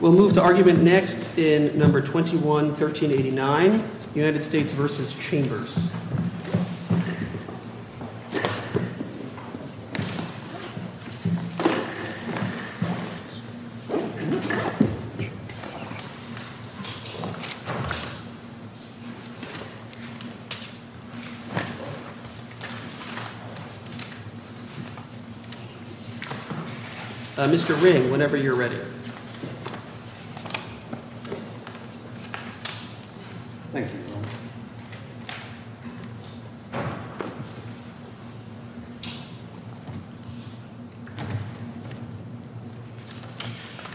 We'll move to argument next in No. 21-1389, United States v. Chambers. Mr. Ring, whenever you're ready. Thank you.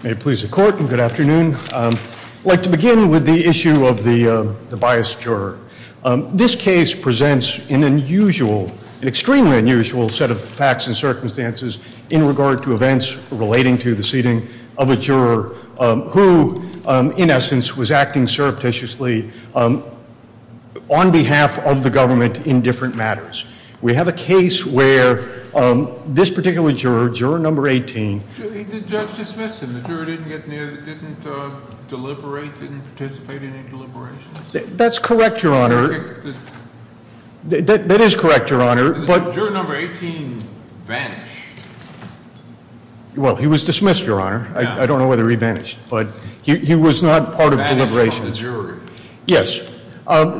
May it please the Court, good afternoon. I'd like to begin with the issue of the biased juror. This case presents an unusual, extremely unusual set of facts and circumstances in regard to events relating to the seating of a juror who, in essence, was acting surreptitiously on behalf of the government in different matters. We have a case where this particular juror, juror No. 18 The judge dismissed him. The juror didn't get near, didn't deliberate, didn't participate in any deliberations? That's correct, Your Honor. That is correct, Your Honor. But juror No. 18 vanished. Well, he was dismissed, Your Honor. I don't know whether he vanished, but he was not part of deliberations. Vanished from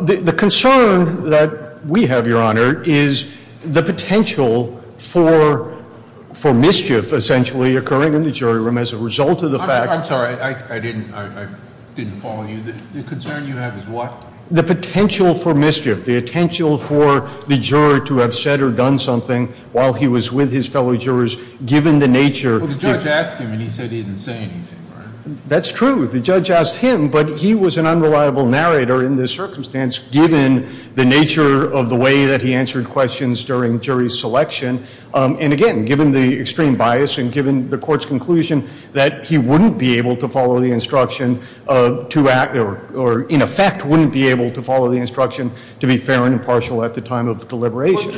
the jury. Yes. The concern that we have, Your Honor, is the potential for mischief, essentially, occurring in the jury room as a result of the fact I'm sorry, I didn't follow you. The concern you have is what? The potential for mischief, the potential for the juror to have said or done something while he was with his fellow jurors, given the nature Well, the judge asked him and he said he didn't say anything, right? That's true. The judge asked him, but he was an unreliable narrator in this circumstance, given the nature of the way that he answered questions during jury selection. And again, given the extreme bias and given the court's conclusion that he wouldn't be able to follow the instruction to act or in effect wouldn't be able to follow the instruction to be fair and impartial at the time of deliberation.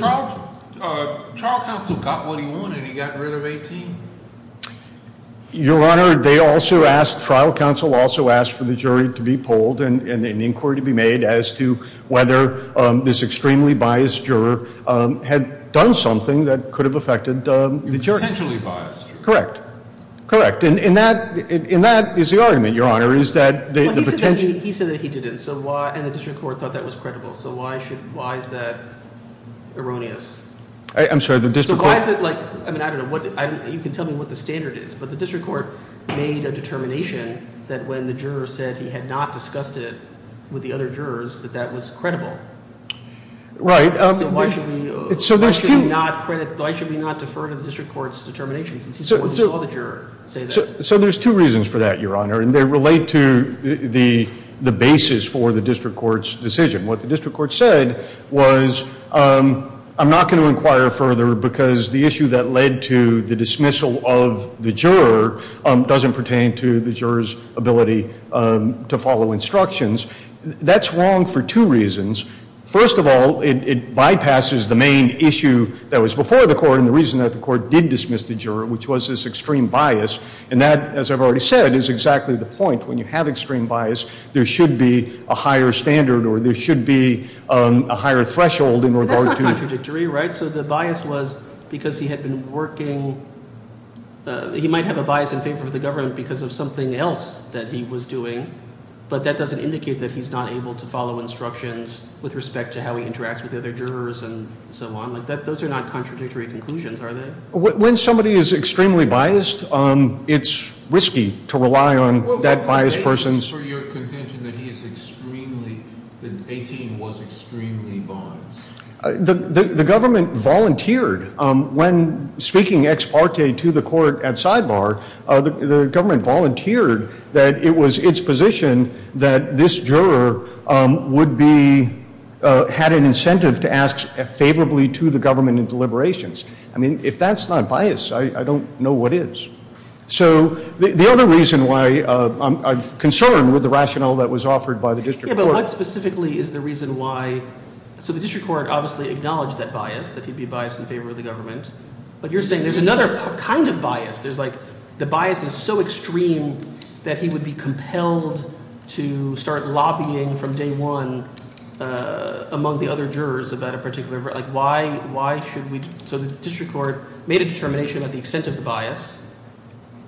But trial counsel got what he wanted. He got rid of 18. Your Honor, they also asked, trial counsel also asked for the jury to be polled and an inquiry to be made as to whether this extremely biased juror had done something that could have affected the jury. Potentially biased. Correct. Correct. And that is the argument, Your Honor, is that the potential He said that he didn't, and the district court thought that was credible, so why is that erroneous? I'm sorry, the district court Why is it like, I don't know, you can tell me what the standard is, but the district court made a determination that when the juror said he had not discussed it with the other jurors that that was credible. Right. So why should we not defer to the district court's determination since he saw the juror say that? So there's two reasons for that, Your Honor, and they relate to the basis for the district court's decision. What the district court said was, I'm not going to inquire further because the issue that led to the dismissal of the juror doesn't pertain to the juror's ability to follow instructions. That's wrong for two reasons. First of all, it bypasses the main issue that was before the court and the reason that the court did dismiss the juror, which was this extreme bias. And that, as I've already said, is exactly the point. When you have extreme bias, there should be a higher standard or there should be a higher threshold in regard to That's not contradictory, right? So the bias was because he had been working, he might have a bias in favor of the government because of something else that he was doing, but that doesn't indicate that he's not able to follow instructions with respect to how he interacts with the other jurors and so on. Those are not contradictory conclusions, are they? When somebody is extremely biased, it's risky to rely on that biased person's Well, that's the basis for your contention that he is extremely, that 18 was extremely biased. The government volunteered. When speaking ex parte to the court at sidebar, the government volunteered that it was its position that this juror would be, had an incentive to ask favorably to the government in deliberations. I mean, if that's not bias, I don't know what is. So the other reason why I'm concerned with the rationale that was offered by the district court Yeah, but what specifically is the reason why? So the district court obviously acknowledged that bias, that he'd be biased in favor of the government. But you're saying there's another kind of bias. There's like, the bias is so extreme that he would be compelled to start lobbying from day one among the other jurors about a particular, like, why, why should we? So the district court made a determination at the extent of the bias.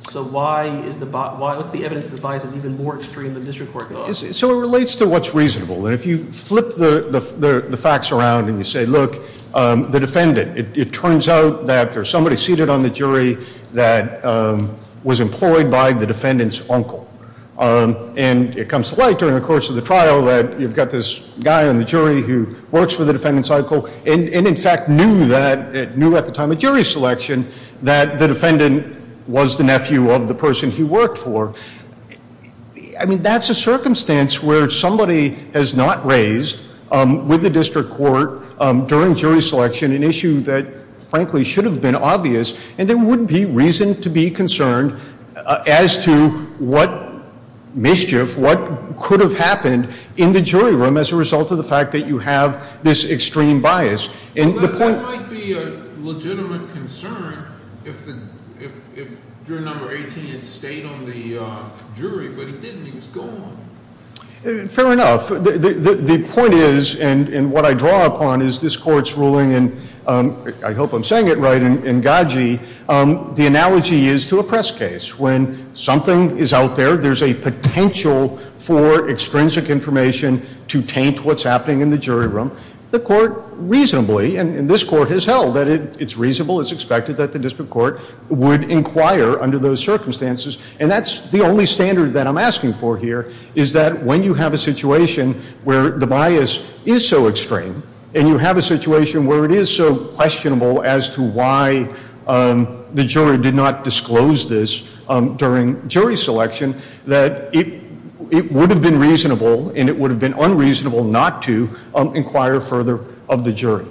So why is the, what's the evidence that the bias is even more extreme than the district court thought? So it relates to what's reasonable. And if you flip the facts around and you say, look, the defendant. It turns out that there's somebody seated on the jury that was employed by the defendant's uncle. And it comes to light during the course of the trial that you've got this guy on the jury who works for the defendant's uncle. And, in fact, knew that, knew at the time of jury selection, that the defendant was the nephew of the person he worked for. I mean, that's a circumstance where somebody has not raised with the district court during jury selection an issue that frankly should have been obvious. And there wouldn't be reason to be concerned as to what mischief, what could have happened in the jury room as a result of the fact that you have this extreme bias. There might be a legitimate concern if juror number 18 had stayed on the jury. But he didn't. He was gone. Fair enough. The point is, and what I draw upon, is this court's ruling. And I hope I'm saying it right. In Gaggi, the analogy is to a press case. When something is out there, there's a potential for extrinsic information to taint what's happening in the jury room. The court reasonably, and this court has held that it's reasonable, it's expected that the district court would inquire under those circumstances. And that's the only standard that I'm asking for here, is that when you have a situation where the bias is so extreme, and you have a situation where it is so questionable as to why the jury did not disclose this during jury selection, that it would have been reasonable and it would have been unreasonable not to inquire further of the jury.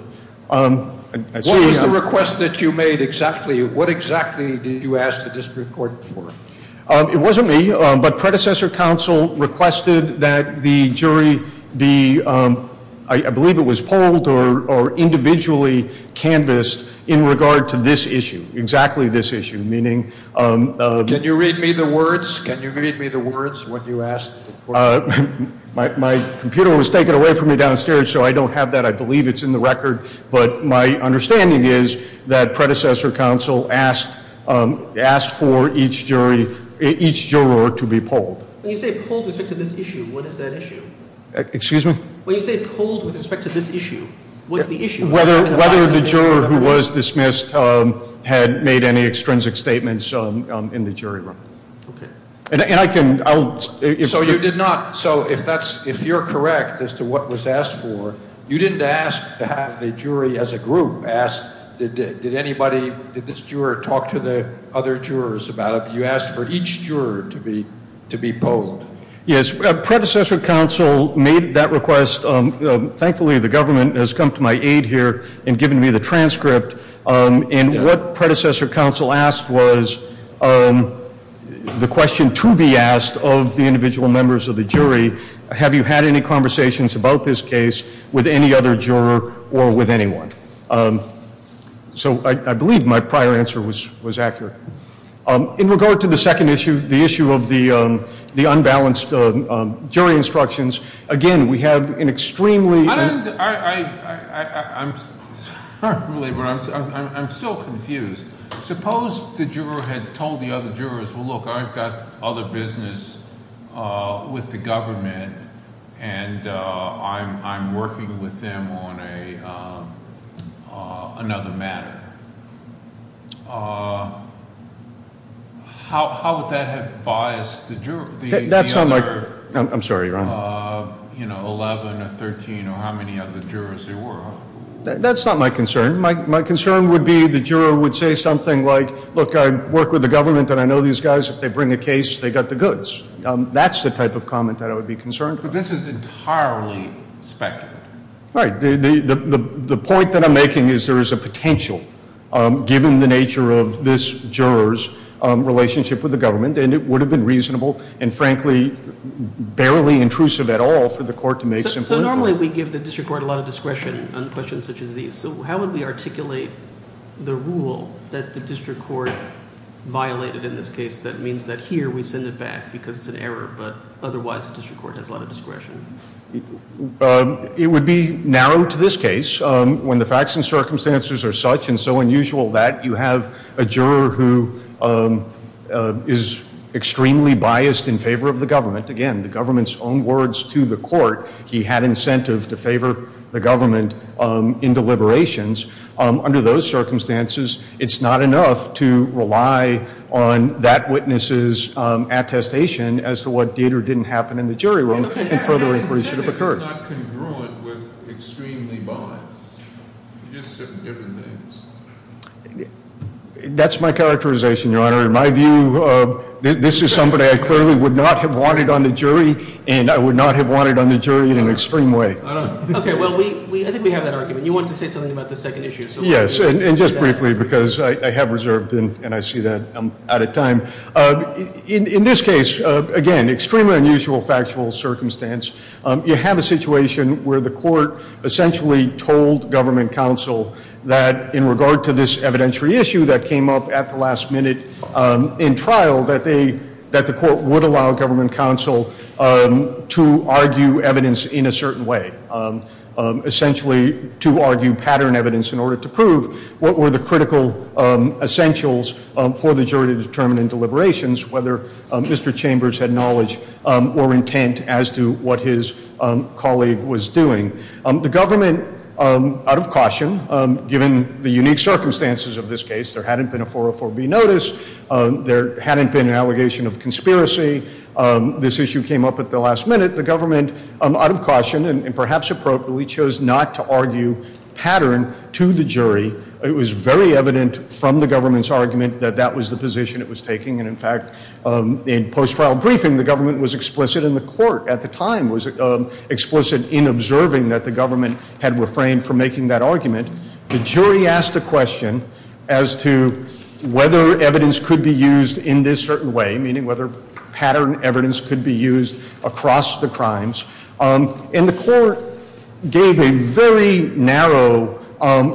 What was the request that you made exactly? What exactly did you ask the district court for? It wasn't me. But predecessor counsel requested that the jury be, I believe it was polled or individually canvassed in regard to this issue, exactly this issue. Can you read me the words? Can you read me the words, what you asked? My computer was taken away from me downstairs, so I don't have that. I believe it's in the record. But my understanding is that predecessor counsel asked for each jury, each juror to be polled. When you say polled with respect to this issue, what is that issue? Excuse me? When you say polled with respect to this issue, what is the issue? Whether the juror who was dismissed had made any extrinsic statements in the jury room. Okay. And I can, I'll. So you did not, so if that's, if you're correct as to what was asked for, you didn't ask to have the jury as a group, ask did anybody, did this juror talk to the other jurors about it? You asked for each juror to be polled. Yes. Predecessor counsel made that request. Thankfully, the government has come to my aid here and given me the transcript. And what predecessor counsel asked was the question to be asked of the individual members of the jury, have you had any conversations about this case with any other juror or with anyone? So I believe my prior answer was accurate. In regard to the second issue, the issue of the unbalanced jury instructions, again, we have an extremely. I'm still confused. Suppose the juror had told the other jurors, well, look, I've got other business with the government, and I'm working with them on another matter. How would that have biased the other 11 or 13 or how many other jurors there were? That's not my concern. My concern would be the juror would say something like, look, I work with the government and I know these guys. If they bring a case, they've got the goods. That's the type of comment that I would be concerned about. But this is entirely speculative. Right. The point that I'm making is there is a potential, given the nature of this juror's relationship with the government, and it would have been reasonable and, frankly, barely intrusive at all for the court to make simple inquiry. So normally we give the district court a lot of discretion on questions such as these. So how would we articulate the rule that the district court violated in this case that means that here we send it back because it's an error, but otherwise the district court has a lot of discretion? It would be narrow to this case. When the facts and circumstances are such and so unusual that you have a juror who is extremely biased in favor of the government, again, the government's own words to the court, he had incentive to favor the government in deliberations. Under those circumstances, it's not enough to rely on that witness's attestation as to what did or didn't happen in the jury room and further inquiry should have occurred. It's not congruent with extremely biased. You just said different things. That's my characterization, Your Honor. In my view, this is somebody I clearly would not have wanted on the jury, and I would not have wanted on the jury in an extreme way. Okay. Well, I think we have that argument. You wanted to say something about the second issue. Yes, and just briefly because I have reserved and I see that I'm out of time. In this case, again, extremely unusual factual circumstance. You have a situation where the court essentially told government counsel that in regard to this evidentiary issue that came up at the last minute in trial that the court would allow government counsel to argue evidence in a certain way, essentially to argue pattern evidence in order to prove what were the critical essentials for the jury to determine in deliberations, whether Mr. Chambers had knowledge or intent as to what his colleague was doing. The government, out of caution, given the unique circumstances of this case, there hadn't been a 404B notice. There hadn't been an allegation of conspiracy. This issue came up at the last minute. The government, out of caution and perhaps appropriately, chose not to argue pattern to the jury. It was very evident from the government's argument that that was the position it was taking, and in fact in post-trial briefing the government was explicit and the court at the time was explicit in observing that the government had refrained from making that argument. The jury asked a question as to whether evidence could be used in this certain way, meaning whether pattern evidence could be used across the crimes, and the court gave a very narrow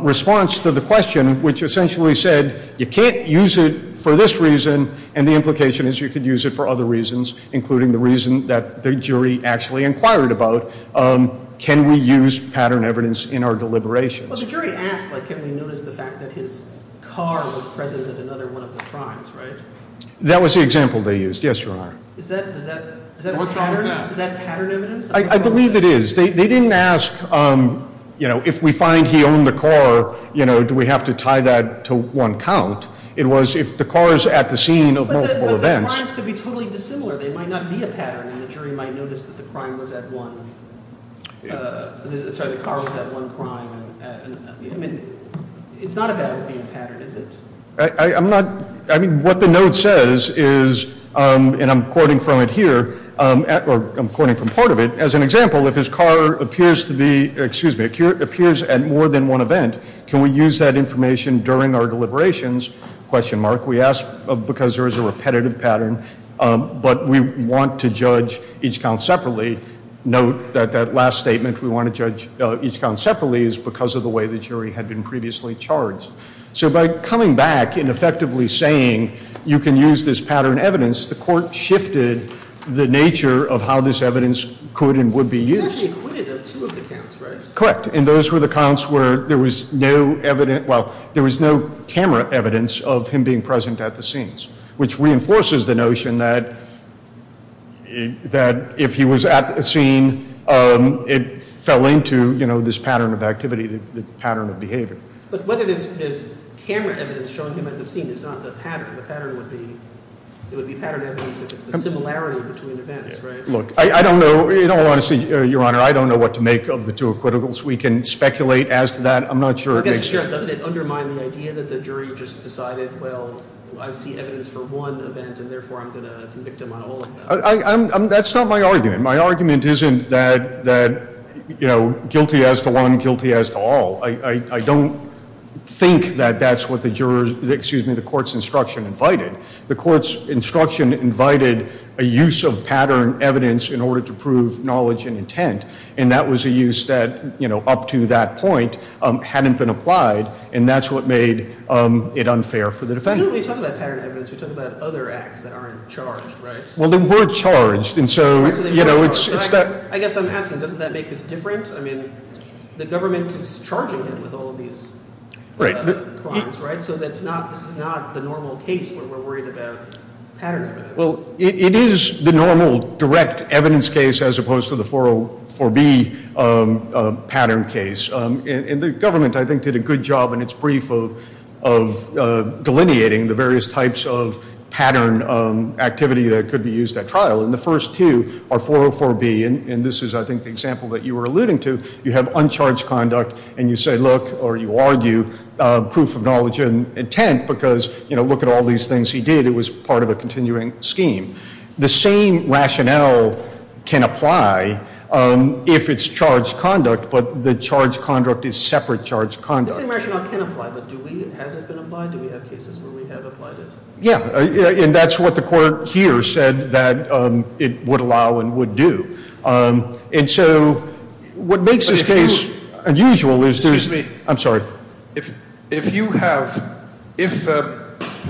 response to the question, which essentially said you can't use it for this reason, and the implication is you could use it for other reasons, including the reason that the jury actually inquired about. Can we use pattern evidence in our deliberations? Well, the jury asked, like, can we notice the fact that his car was present at another one of the crimes, right? That was the example they used. Yes, Your Honor. Is that pattern evidence? I believe it is. They didn't ask, you know, if we find he owned the car, you know, do we have to tie that to one count. It was if the car is at the scene of multiple events. But the crimes could be totally dissimilar. They might not be a pattern, and the jury might notice that the crime was at one. Sorry, the car was at one crime. I mean, it's not about being pattern, is it? I'm not, I mean, what the note says is, and I'm quoting from it here, or I'm quoting from part of it, as an example, if his car appears to be, excuse me, appears at more than one event, can we use that information during our deliberations? We ask because there is a repetitive pattern, but we want to judge each count separately. Note that that last statement, we want to judge each count separately, is because of the way the jury had been previously charged. So by coming back and effectively saying you can use this pattern evidence, the court shifted the nature of how this evidence could and would be used. It's actually acquitted of two of the counts, right? Correct, and those were the counts where there was no evidence, well, there was no camera evidence of him being present at the scenes, which reinforces the notion that if he was at the scene, it fell into, you know, this pattern of activity, the pattern of behavior. But whether there's camera evidence showing him at the scene is not the pattern. The pattern would be, it would be pattern evidence if it's the similarity between events, right? Look, I don't know, in all honesty, Your Honor, I don't know what to make of the two acquittals. We can speculate as to that. I'm not sure it makes sense. I guess it doesn't undermine the idea that the jury just decided, well, I see evidence for one event and therefore I'm going to convict him on all of them. That's not my argument. My argument isn't that, you know, guilty as to one, guilty as to all. I don't think that that's what the jurors, excuse me, the court's instruction invited. The court's instruction invited a use of pattern evidence in order to prove knowledge and intent, and that was a use that, you know, up to that point hadn't been applied, and that's what made it unfair for the defendant. You don't really talk about pattern evidence. You talk about other acts that aren't charged, right? Well, they were charged, and so, you know, it's that. I guess I'm asking, doesn't that make this different? I mean, the government is charging him with all of these crimes, right? So that's not the normal case where we're worried about pattern evidence. Well, it is the normal direct evidence case as opposed to the 404B pattern case, and the government I think did a good job in its brief of delineating the various types of pattern activity that could be used at trial, and the first two are 404B, and this is I think the example that you were alluding to. You have uncharged conduct, and you say, look, or you argue proof of knowledge and intent because, you know, look at all these things he did. It was part of a continuing scheme. The same rationale can apply if it's charged conduct, but the charged conduct is separate charged conduct. The same rationale can apply, but do we? Has it been applied? Do we have cases where we have applied it? Yeah, and that's what the court here said that it would allow and would do, and so what makes this case unusual is there's ‑‑ Excuse me. I'm sorry. If you have ‑‑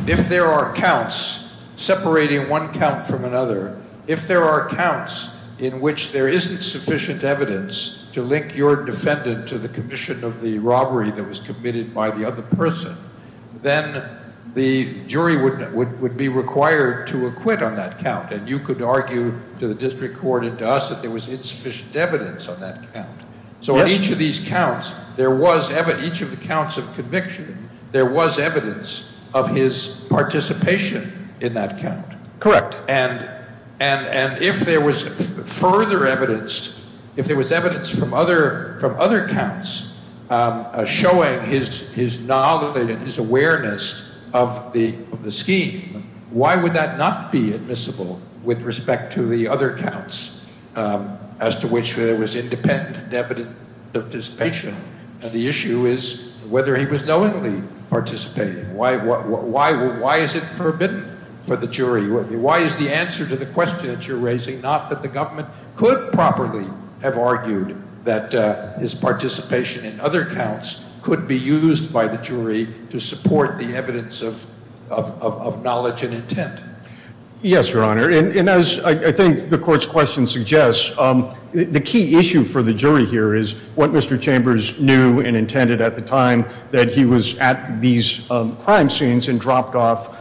if there are counts separating one count from another, if there are counts in which there isn't sufficient evidence to link your defendant to the commission of the robbery that was committed by the other person, then the jury would be required to acquit on that count, and you could argue to the district court and to us that there was insufficient evidence on that count. So each of these counts, there was ‑‑ each of the counts of conviction, there was evidence of his participation in that count. Correct. And if there was further evidence, if there was evidence from other counts showing his knowledge and his awareness of the scheme, why would that not be admissible with respect to the other counts as to which there was independent and evident participation? And the issue is whether he was knowingly participating. Why is it forbidden for the jury? Why is the answer to the question that you're raising not that the government could properly have argued that his participation in other counts could be used by the jury to support the evidence of knowledge and intent? Yes, Your Honor. And as I think the court's question suggests, the key issue for the jury here is what Mr. Chambers knew and intended at the time that he was at these crime scenes and dropped off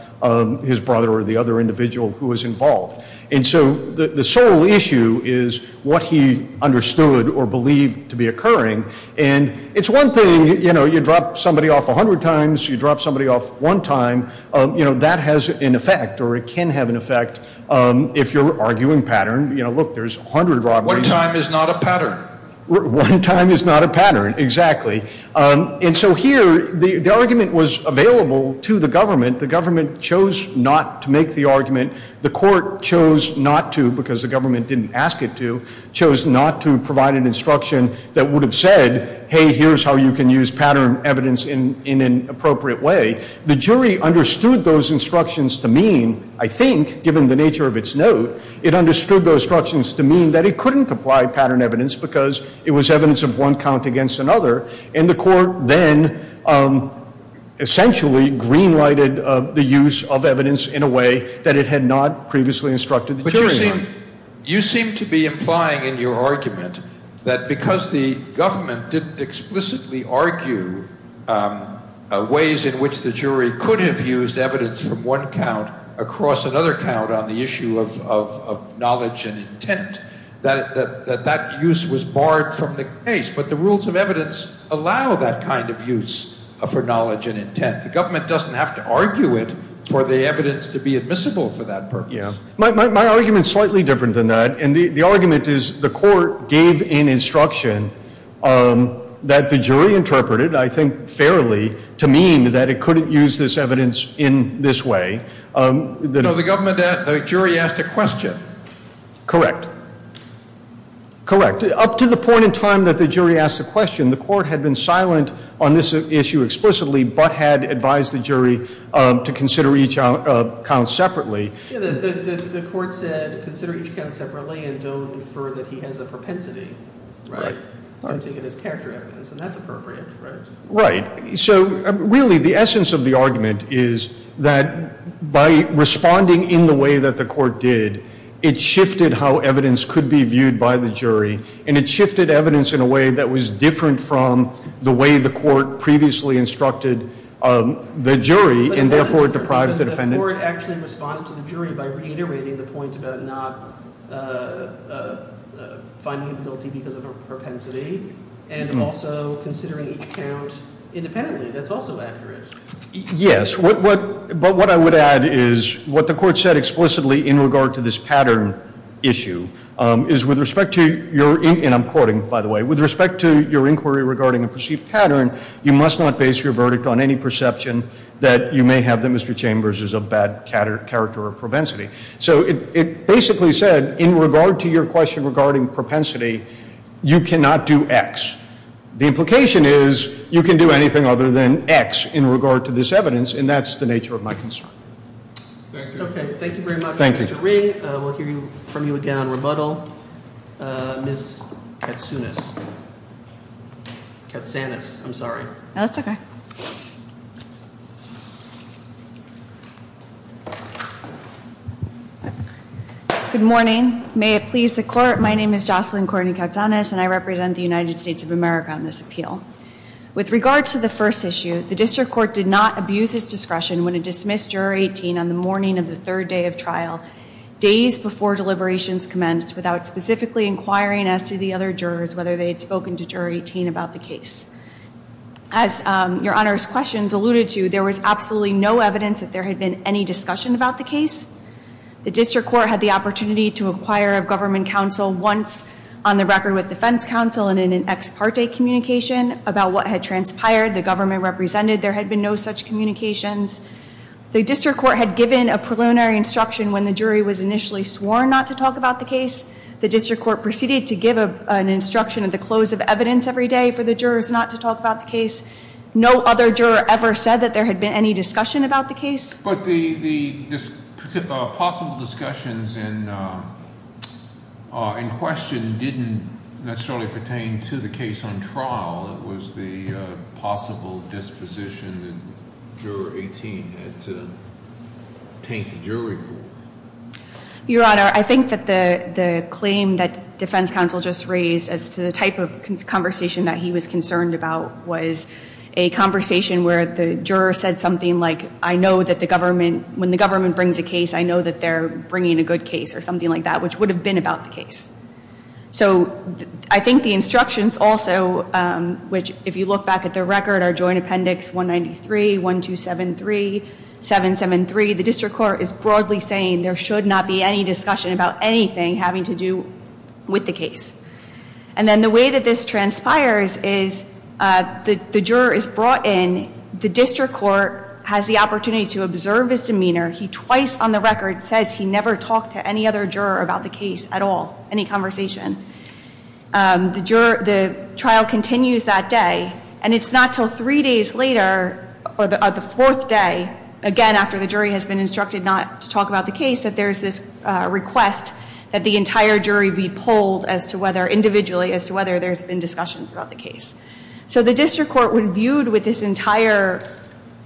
his brother or the other individual who was involved. And so the sole issue is what he understood or believed to be occurring. And it's one thing, you know, you drop somebody off a hundred times, you drop somebody off one time, you know, that has an effect or it can have an effect if you're arguing pattern. You know, look, there's a hundred robberies. One time is not a pattern. One time is not a pattern, exactly. And so here, the argument was available to the government. The government chose not to make the argument. The court chose not to, because the government didn't ask it to, chose not to provide an instruction that would have said, hey, here's how you can use pattern evidence in an appropriate way. The jury understood those instructions to mean, I think, given the nature of its note, it understood those instructions to mean that it couldn't apply pattern evidence because it was evidence of one count against another. And the court then essentially green-lighted the use of evidence in a way that it had not previously instructed the jury on. But you seem to be implying in your argument that because the government didn't explicitly argue ways in which the jury could have used evidence from one count across another count on the issue of knowledge and intent, that that use was barred from the case. But the rules of evidence allow that kind of use for knowledge and intent. The government doesn't have to argue it for the evidence to be admissible for that purpose. My argument is slightly different than that. And the argument is the court gave an instruction that the jury interpreted, I think fairly, to mean that it couldn't use this evidence in this way. So the government, the jury asked a question. Correct. Correct. Up to the point in time that the jury asked the question, the court had been silent on this issue explicitly but had advised the jury to consider each count separately. The court said consider each count separately and don't infer that he has a propensity, right, to get his character evidence, and that's appropriate, right? Right. So really the essence of the argument is that by responding in the way that the court did, it shifted how evidence could be viewed by the jury, and it shifted evidence in a way that was different from the way the court previously instructed the jury and therefore deprived the defendant. Does the court actually respond to the jury by reiterating the point about not finding him guilty because of a propensity and also considering each count independently? That's also accurate. Yes. But what I would add is what the court said explicitly in regard to this pattern issue is with respect to your and I'm quoting, by the way, with respect to your inquiry regarding a perceived pattern, you must not base your verdict on any perception that you may have that Mr. Chambers is a bad character or propensity. So it basically said in regard to your question regarding propensity, you cannot do X. The implication is you can do anything other than X in regard to this evidence, and that's the nature of my concern. Thank you. Okay. Thank you very much, Mr. Ring. We'll hear from you again on rebuttal. Ms. Katsanis. Katsanis, I'm sorry. That's okay. Good morning. May it please the court, my name is Jocelyn Courtney Katsanis, and I represent the United States of America on this appeal. With regard to the first issue, the district court did not abuse its discretion when it dismissed juror 18 on the morning of the third day of trial, days before deliberations commenced, without specifically inquiring as to the other jurors whether they had spoken to juror 18 about the case. As your Honor's questions alluded to, there was absolutely no evidence that there had been any discussion about the case. The district court had the opportunity to acquire a government counsel once on the record with defense counsel and in an ex parte communication about what had transpired, the government represented. There had been no such communications. The district court had given a preliminary instruction when the jury was initially sworn not to talk about the case. The district court proceeded to give an instruction at the close of evidence every day for the jurors not to talk about the case. No other juror ever said that there had been any discussion about the case. But the possible discussions in question didn't necessarily pertain to the case on trial. It was the possible disposition that juror 18 had to take the jury for. Your Honor, I think that the claim that defense counsel just raised as to the type of conversation that he was concerned about was a conversation where the juror said something like, I know that when the government brings a case, I know that they're bringing a good case or something like that, which would have been about the case. So I think the instructions also, which if you look back at the record, are Joint Appendix 193, 1273, 773. The district court is broadly saying there should not be any discussion about anything having to do with the case. And then the way that this transpires is the juror is brought in, the district court has the opportunity to observe his demeanor. He twice on the record says he never talked to any other juror about the case at all, any conversation. The trial continues that day, and it's not until three days later or the fourth day, again after the jury has been instructed not to talk about the case, that there's this request that the entire jury be polled individually as to whether there's been discussions about the case. So the district court, when viewed with this entire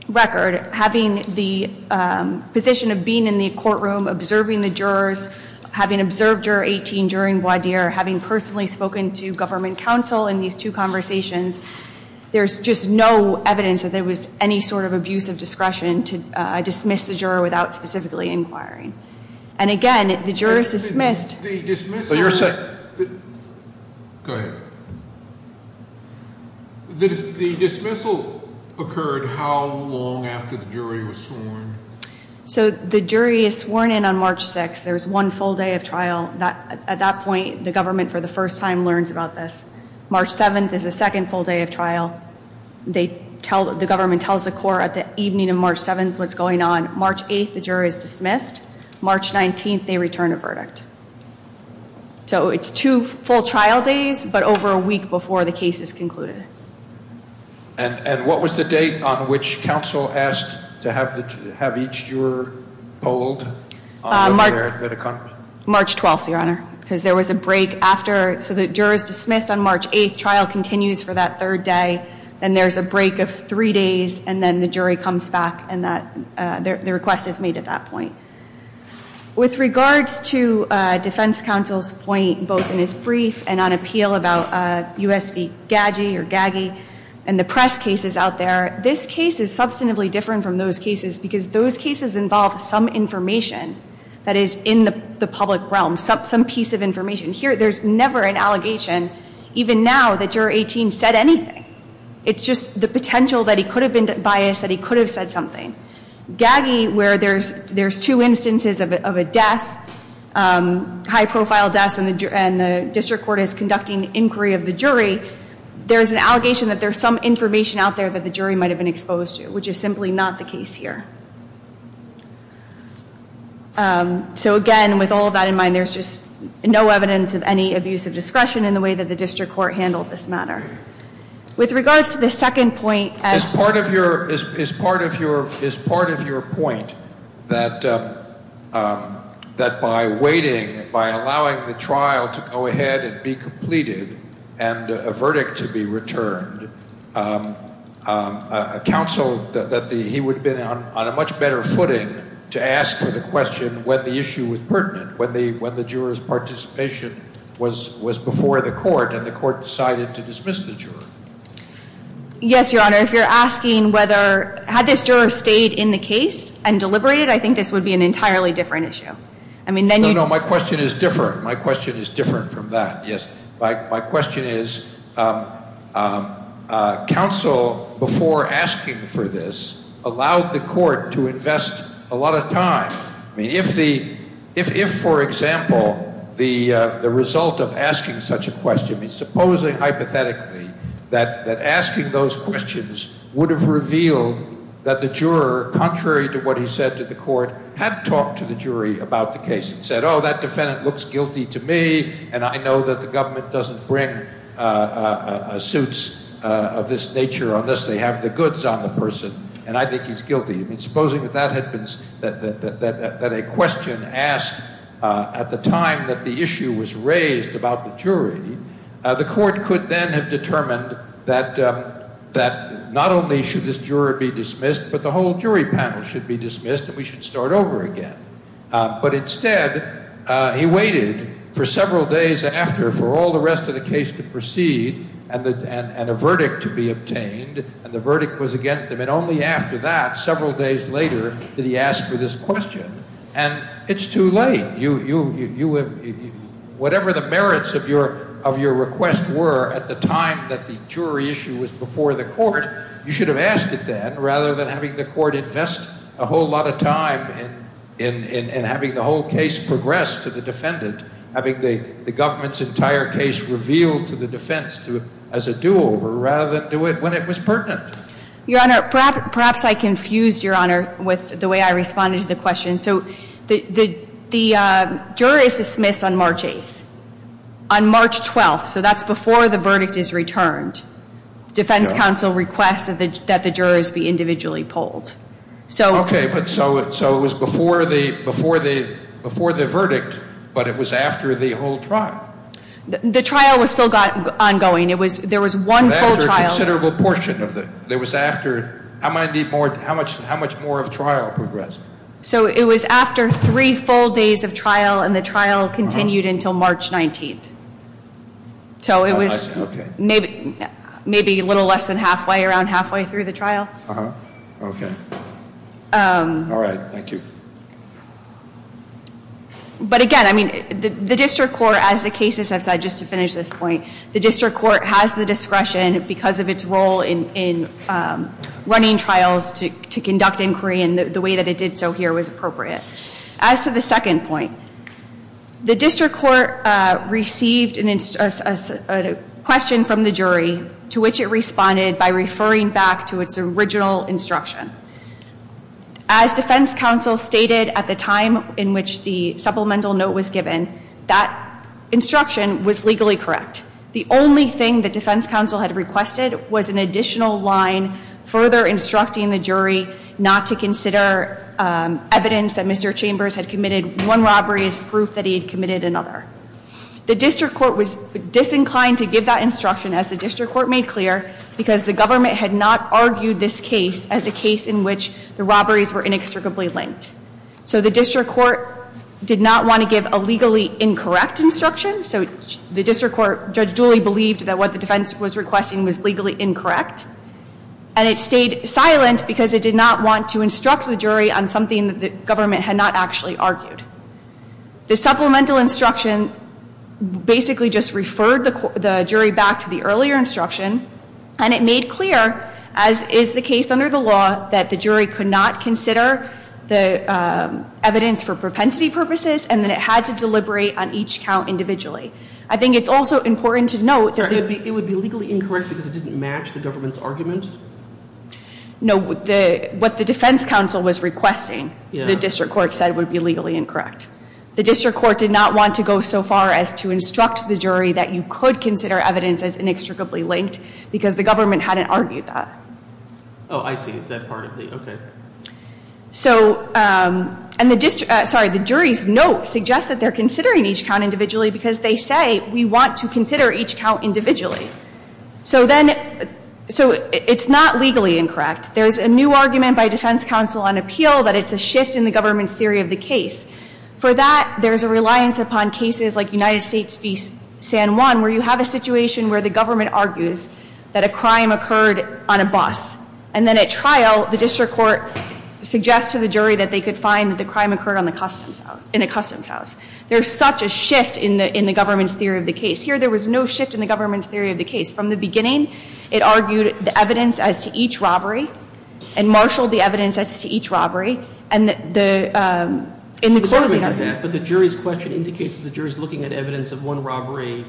record, having the position of being in the courtroom, observing the jurors, having observed Juror 18, juroring Boisdier, having personally spoken to government counsel in these two conversations, there's just no evidence that there was any sort of abuse of discretion to dismiss the juror without specifically inquiring. And again, the juror is dismissed. The dismissal occurred how long after the jury was sworn? So the jury is sworn in on March 6th. There's one full day of trial. At that point, the government, for the first time, learns about this. March 7th is the second full day of trial. The government tells the court at the evening of March 7th what's going on. March 8th, the juror is dismissed. March 19th, they return a verdict. So it's two full trial days, but over a week before the case is concluded. And what was the date on which counsel asked to have each juror polled? March 12th, Your Honor. Because there was a break after. So the juror is dismissed on March 8th. Trial continues for that third day. Then there's a break of three days. And then the jury comes back, and the request is made at that point. With regards to defense counsel's point, both in his brief and on appeal about U.S. v. Gaggi, and the press cases out there, this case is substantively different from those cases because those cases involve some information that is in the public realm. Some piece of information. Here, there's never an allegation, even now, that Juror 18 said anything. It's just the potential that he could have been biased, that he could have said something. Gaggi, where there's two instances of a death, high-profile death, and the district court is conducting inquiry of the jury, there's an allegation that there's some information out there that the jury might have been exposed to, which is simply not the case here. So, again, with all of that in mind, there's just no evidence of any abuse of discretion in the way that the district court handled this matter. With regards to the second point, as part of your point, that by waiting, by allowing the trial to go ahead and be completed and a verdict to be returned, counsel, that he would have been on a much better footing to ask the question when the issue was pertinent, when the juror's participation was before the court and the court decided to dismiss the juror. Yes, Your Honor. If you're asking whether, had this juror stayed in the case and deliberated, I think this would be an entirely different issue. No, no, my question is different. My question is different from that, yes. My question is, counsel, before asking for this, allowed the court to invest a lot of time. I mean, if, for example, the result of asking such a question, supposing hypothetically that asking those questions would have revealed that the juror, contrary to what he said to the court, had talked to the jury about the case and said, oh, that defendant looks guilty to me and I know that the government doesn't bring suits of this nature unless they have the goods on the person and I think he's guilty. I mean, supposing that a question asked at the time that the issue was raised about the jury, the court could then have determined that not only should this juror be dismissed, but the whole jury panel should be dismissed and we should start over again. But instead, he waited for several days after for all the rest of the case to proceed and a verdict to be obtained, and the verdict was against him. And only after that, several days later, did he ask for this question. And it's too late. Whatever the merits of your request were at the time that the jury issue was before the court, you should have asked it then rather than having the court invest a whole lot of time in having the whole case progress to the defendant, having the government's entire case revealed to the defense as a do-over rather than do it when it was pertinent. Your Honor, perhaps I confused, Your Honor, with the way I responded to the question. So the juror is dismissed on March 8th. On March 12th, so that's before the verdict is returned. The defense counsel requests that the jurors be individually polled. Okay, but so it was before the verdict, but it was after the whole trial. The trial was still ongoing. There was one full trial. That's a considerable portion of it. It was after. How much more of trial progressed? So it was after three full days of trial, and the trial continued until March 19th. So it was maybe a little less than halfway, around halfway through the trial. Okay. All right. Thank you. But again, I mean, the district court, as the cases have said, just to finish this point, the district court has the discretion because of its role in running trials to conduct inquiry in the way that it did so here was appropriate. As to the second point, the district court received a question from the jury to which it responded by referring back to its original instruction. As defense counsel stated at the time in which the supplemental note was given, that instruction was legally correct. The only thing the defense counsel had requested was an additional line further instructing the jury not to consider evidence that Mr. Chambers had committed one robbery as proof that he had committed another. The district court was disinclined to give that instruction, as the district court made clear, because the government had not argued this case as a case in which the robberies were inextricably linked. So the district court did not want to give a legally incorrect instruction. So the district court, Judge Dooley believed that what the defense was requesting was legally incorrect. And it stayed silent because it did not want to instruct the jury on something that the government had not actually argued. The supplemental instruction basically just referred the jury back to the earlier instruction, and it made clear, as is the case under the law, that the jury could not consider the evidence for propensity purposes, and that it had to deliberate on each count individually. I think it's also important to note that... It would be legally incorrect because it didn't match the government's argument? No. What the defense counsel was requesting, the district court said, would be legally incorrect. The district court did not want to go so far as to instruct the jury that you could consider evidence as inextricably linked, because the government hadn't argued that. And the jury's note suggests that they're considering each count individually because they say, we want to consider each count individually. So it's not legally incorrect. There's a new argument by defense counsel on appeal that it's a shift in the government's theory of the case. For that, there's a reliance upon cases like United States v. San Juan, where you have a situation where the government argues that a crime occurred on a bus. And then at trial, the district court suggests to the jury that they could find that the crime occurred in a customs house. There's such a shift in the government's theory of the case. Here, there was no shift in the government's theory of the case. From the beginning, it argued the evidence as to each robbery and marshaled the evidence as to each robbery. And in the closing argument... But the jury's question indicates that the jury's looking at evidence of one robbery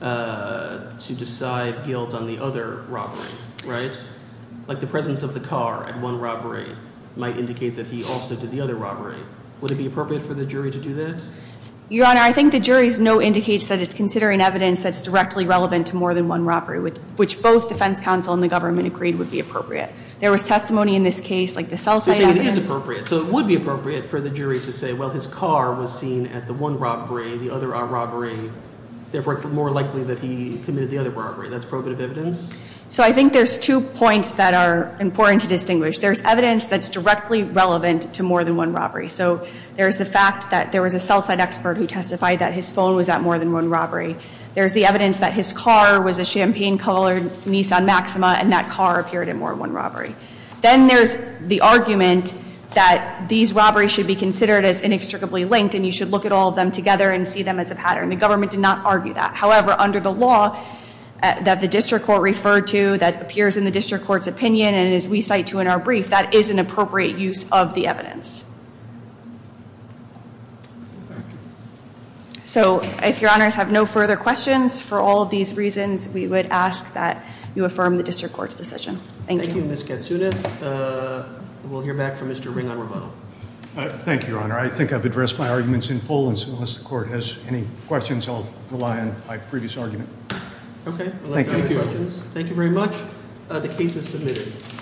to decide guilt on the other robbery. Right? Like the presence of the car at one robbery might indicate that he also did the other robbery. Would it be appropriate for the jury to do that? Your Honor, I think the jury's note indicates that it's considering evidence that's directly relevant to more than one robbery, which both defense counsel and the government agreed would be appropriate. There was testimony in this case, like the cell site evidence... You're saying it is appropriate. So it would be appropriate for the jury to say, well, his car was seen at the one robbery, the other robbery. Therefore, it's more likely that he committed the other robbery. That's probative evidence? So I think there's two points that are important to distinguish. There's evidence that's directly relevant to more than one robbery. So there's the fact that there was a cell site expert who testified that his phone was at more than one robbery. There's the evidence that his car was a champagne-colored Nissan Maxima and that car appeared at more than one robbery. Then there's the argument that these robberies should be considered as inextricably linked and you should look at all of them together and see them as a pattern. The government did not argue that. However, under the law that the district court referred to that appears in the district court's opinion and as we cite to in our brief, that is an appropriate use of the evidence. So if your honors have no further questions, for all of these reasons, we would ask that you affirm the district court's decision. Thank you. Thank you, Ms. Katsunis. We'll hear back from Mr. Ring on rebuttal. Thank you, your honor. I think I've addressed my arguments in full. So unless the court has any questions, I'll rely on my previous argument. Okay. Thank you. Thank you very much. The case is submitted.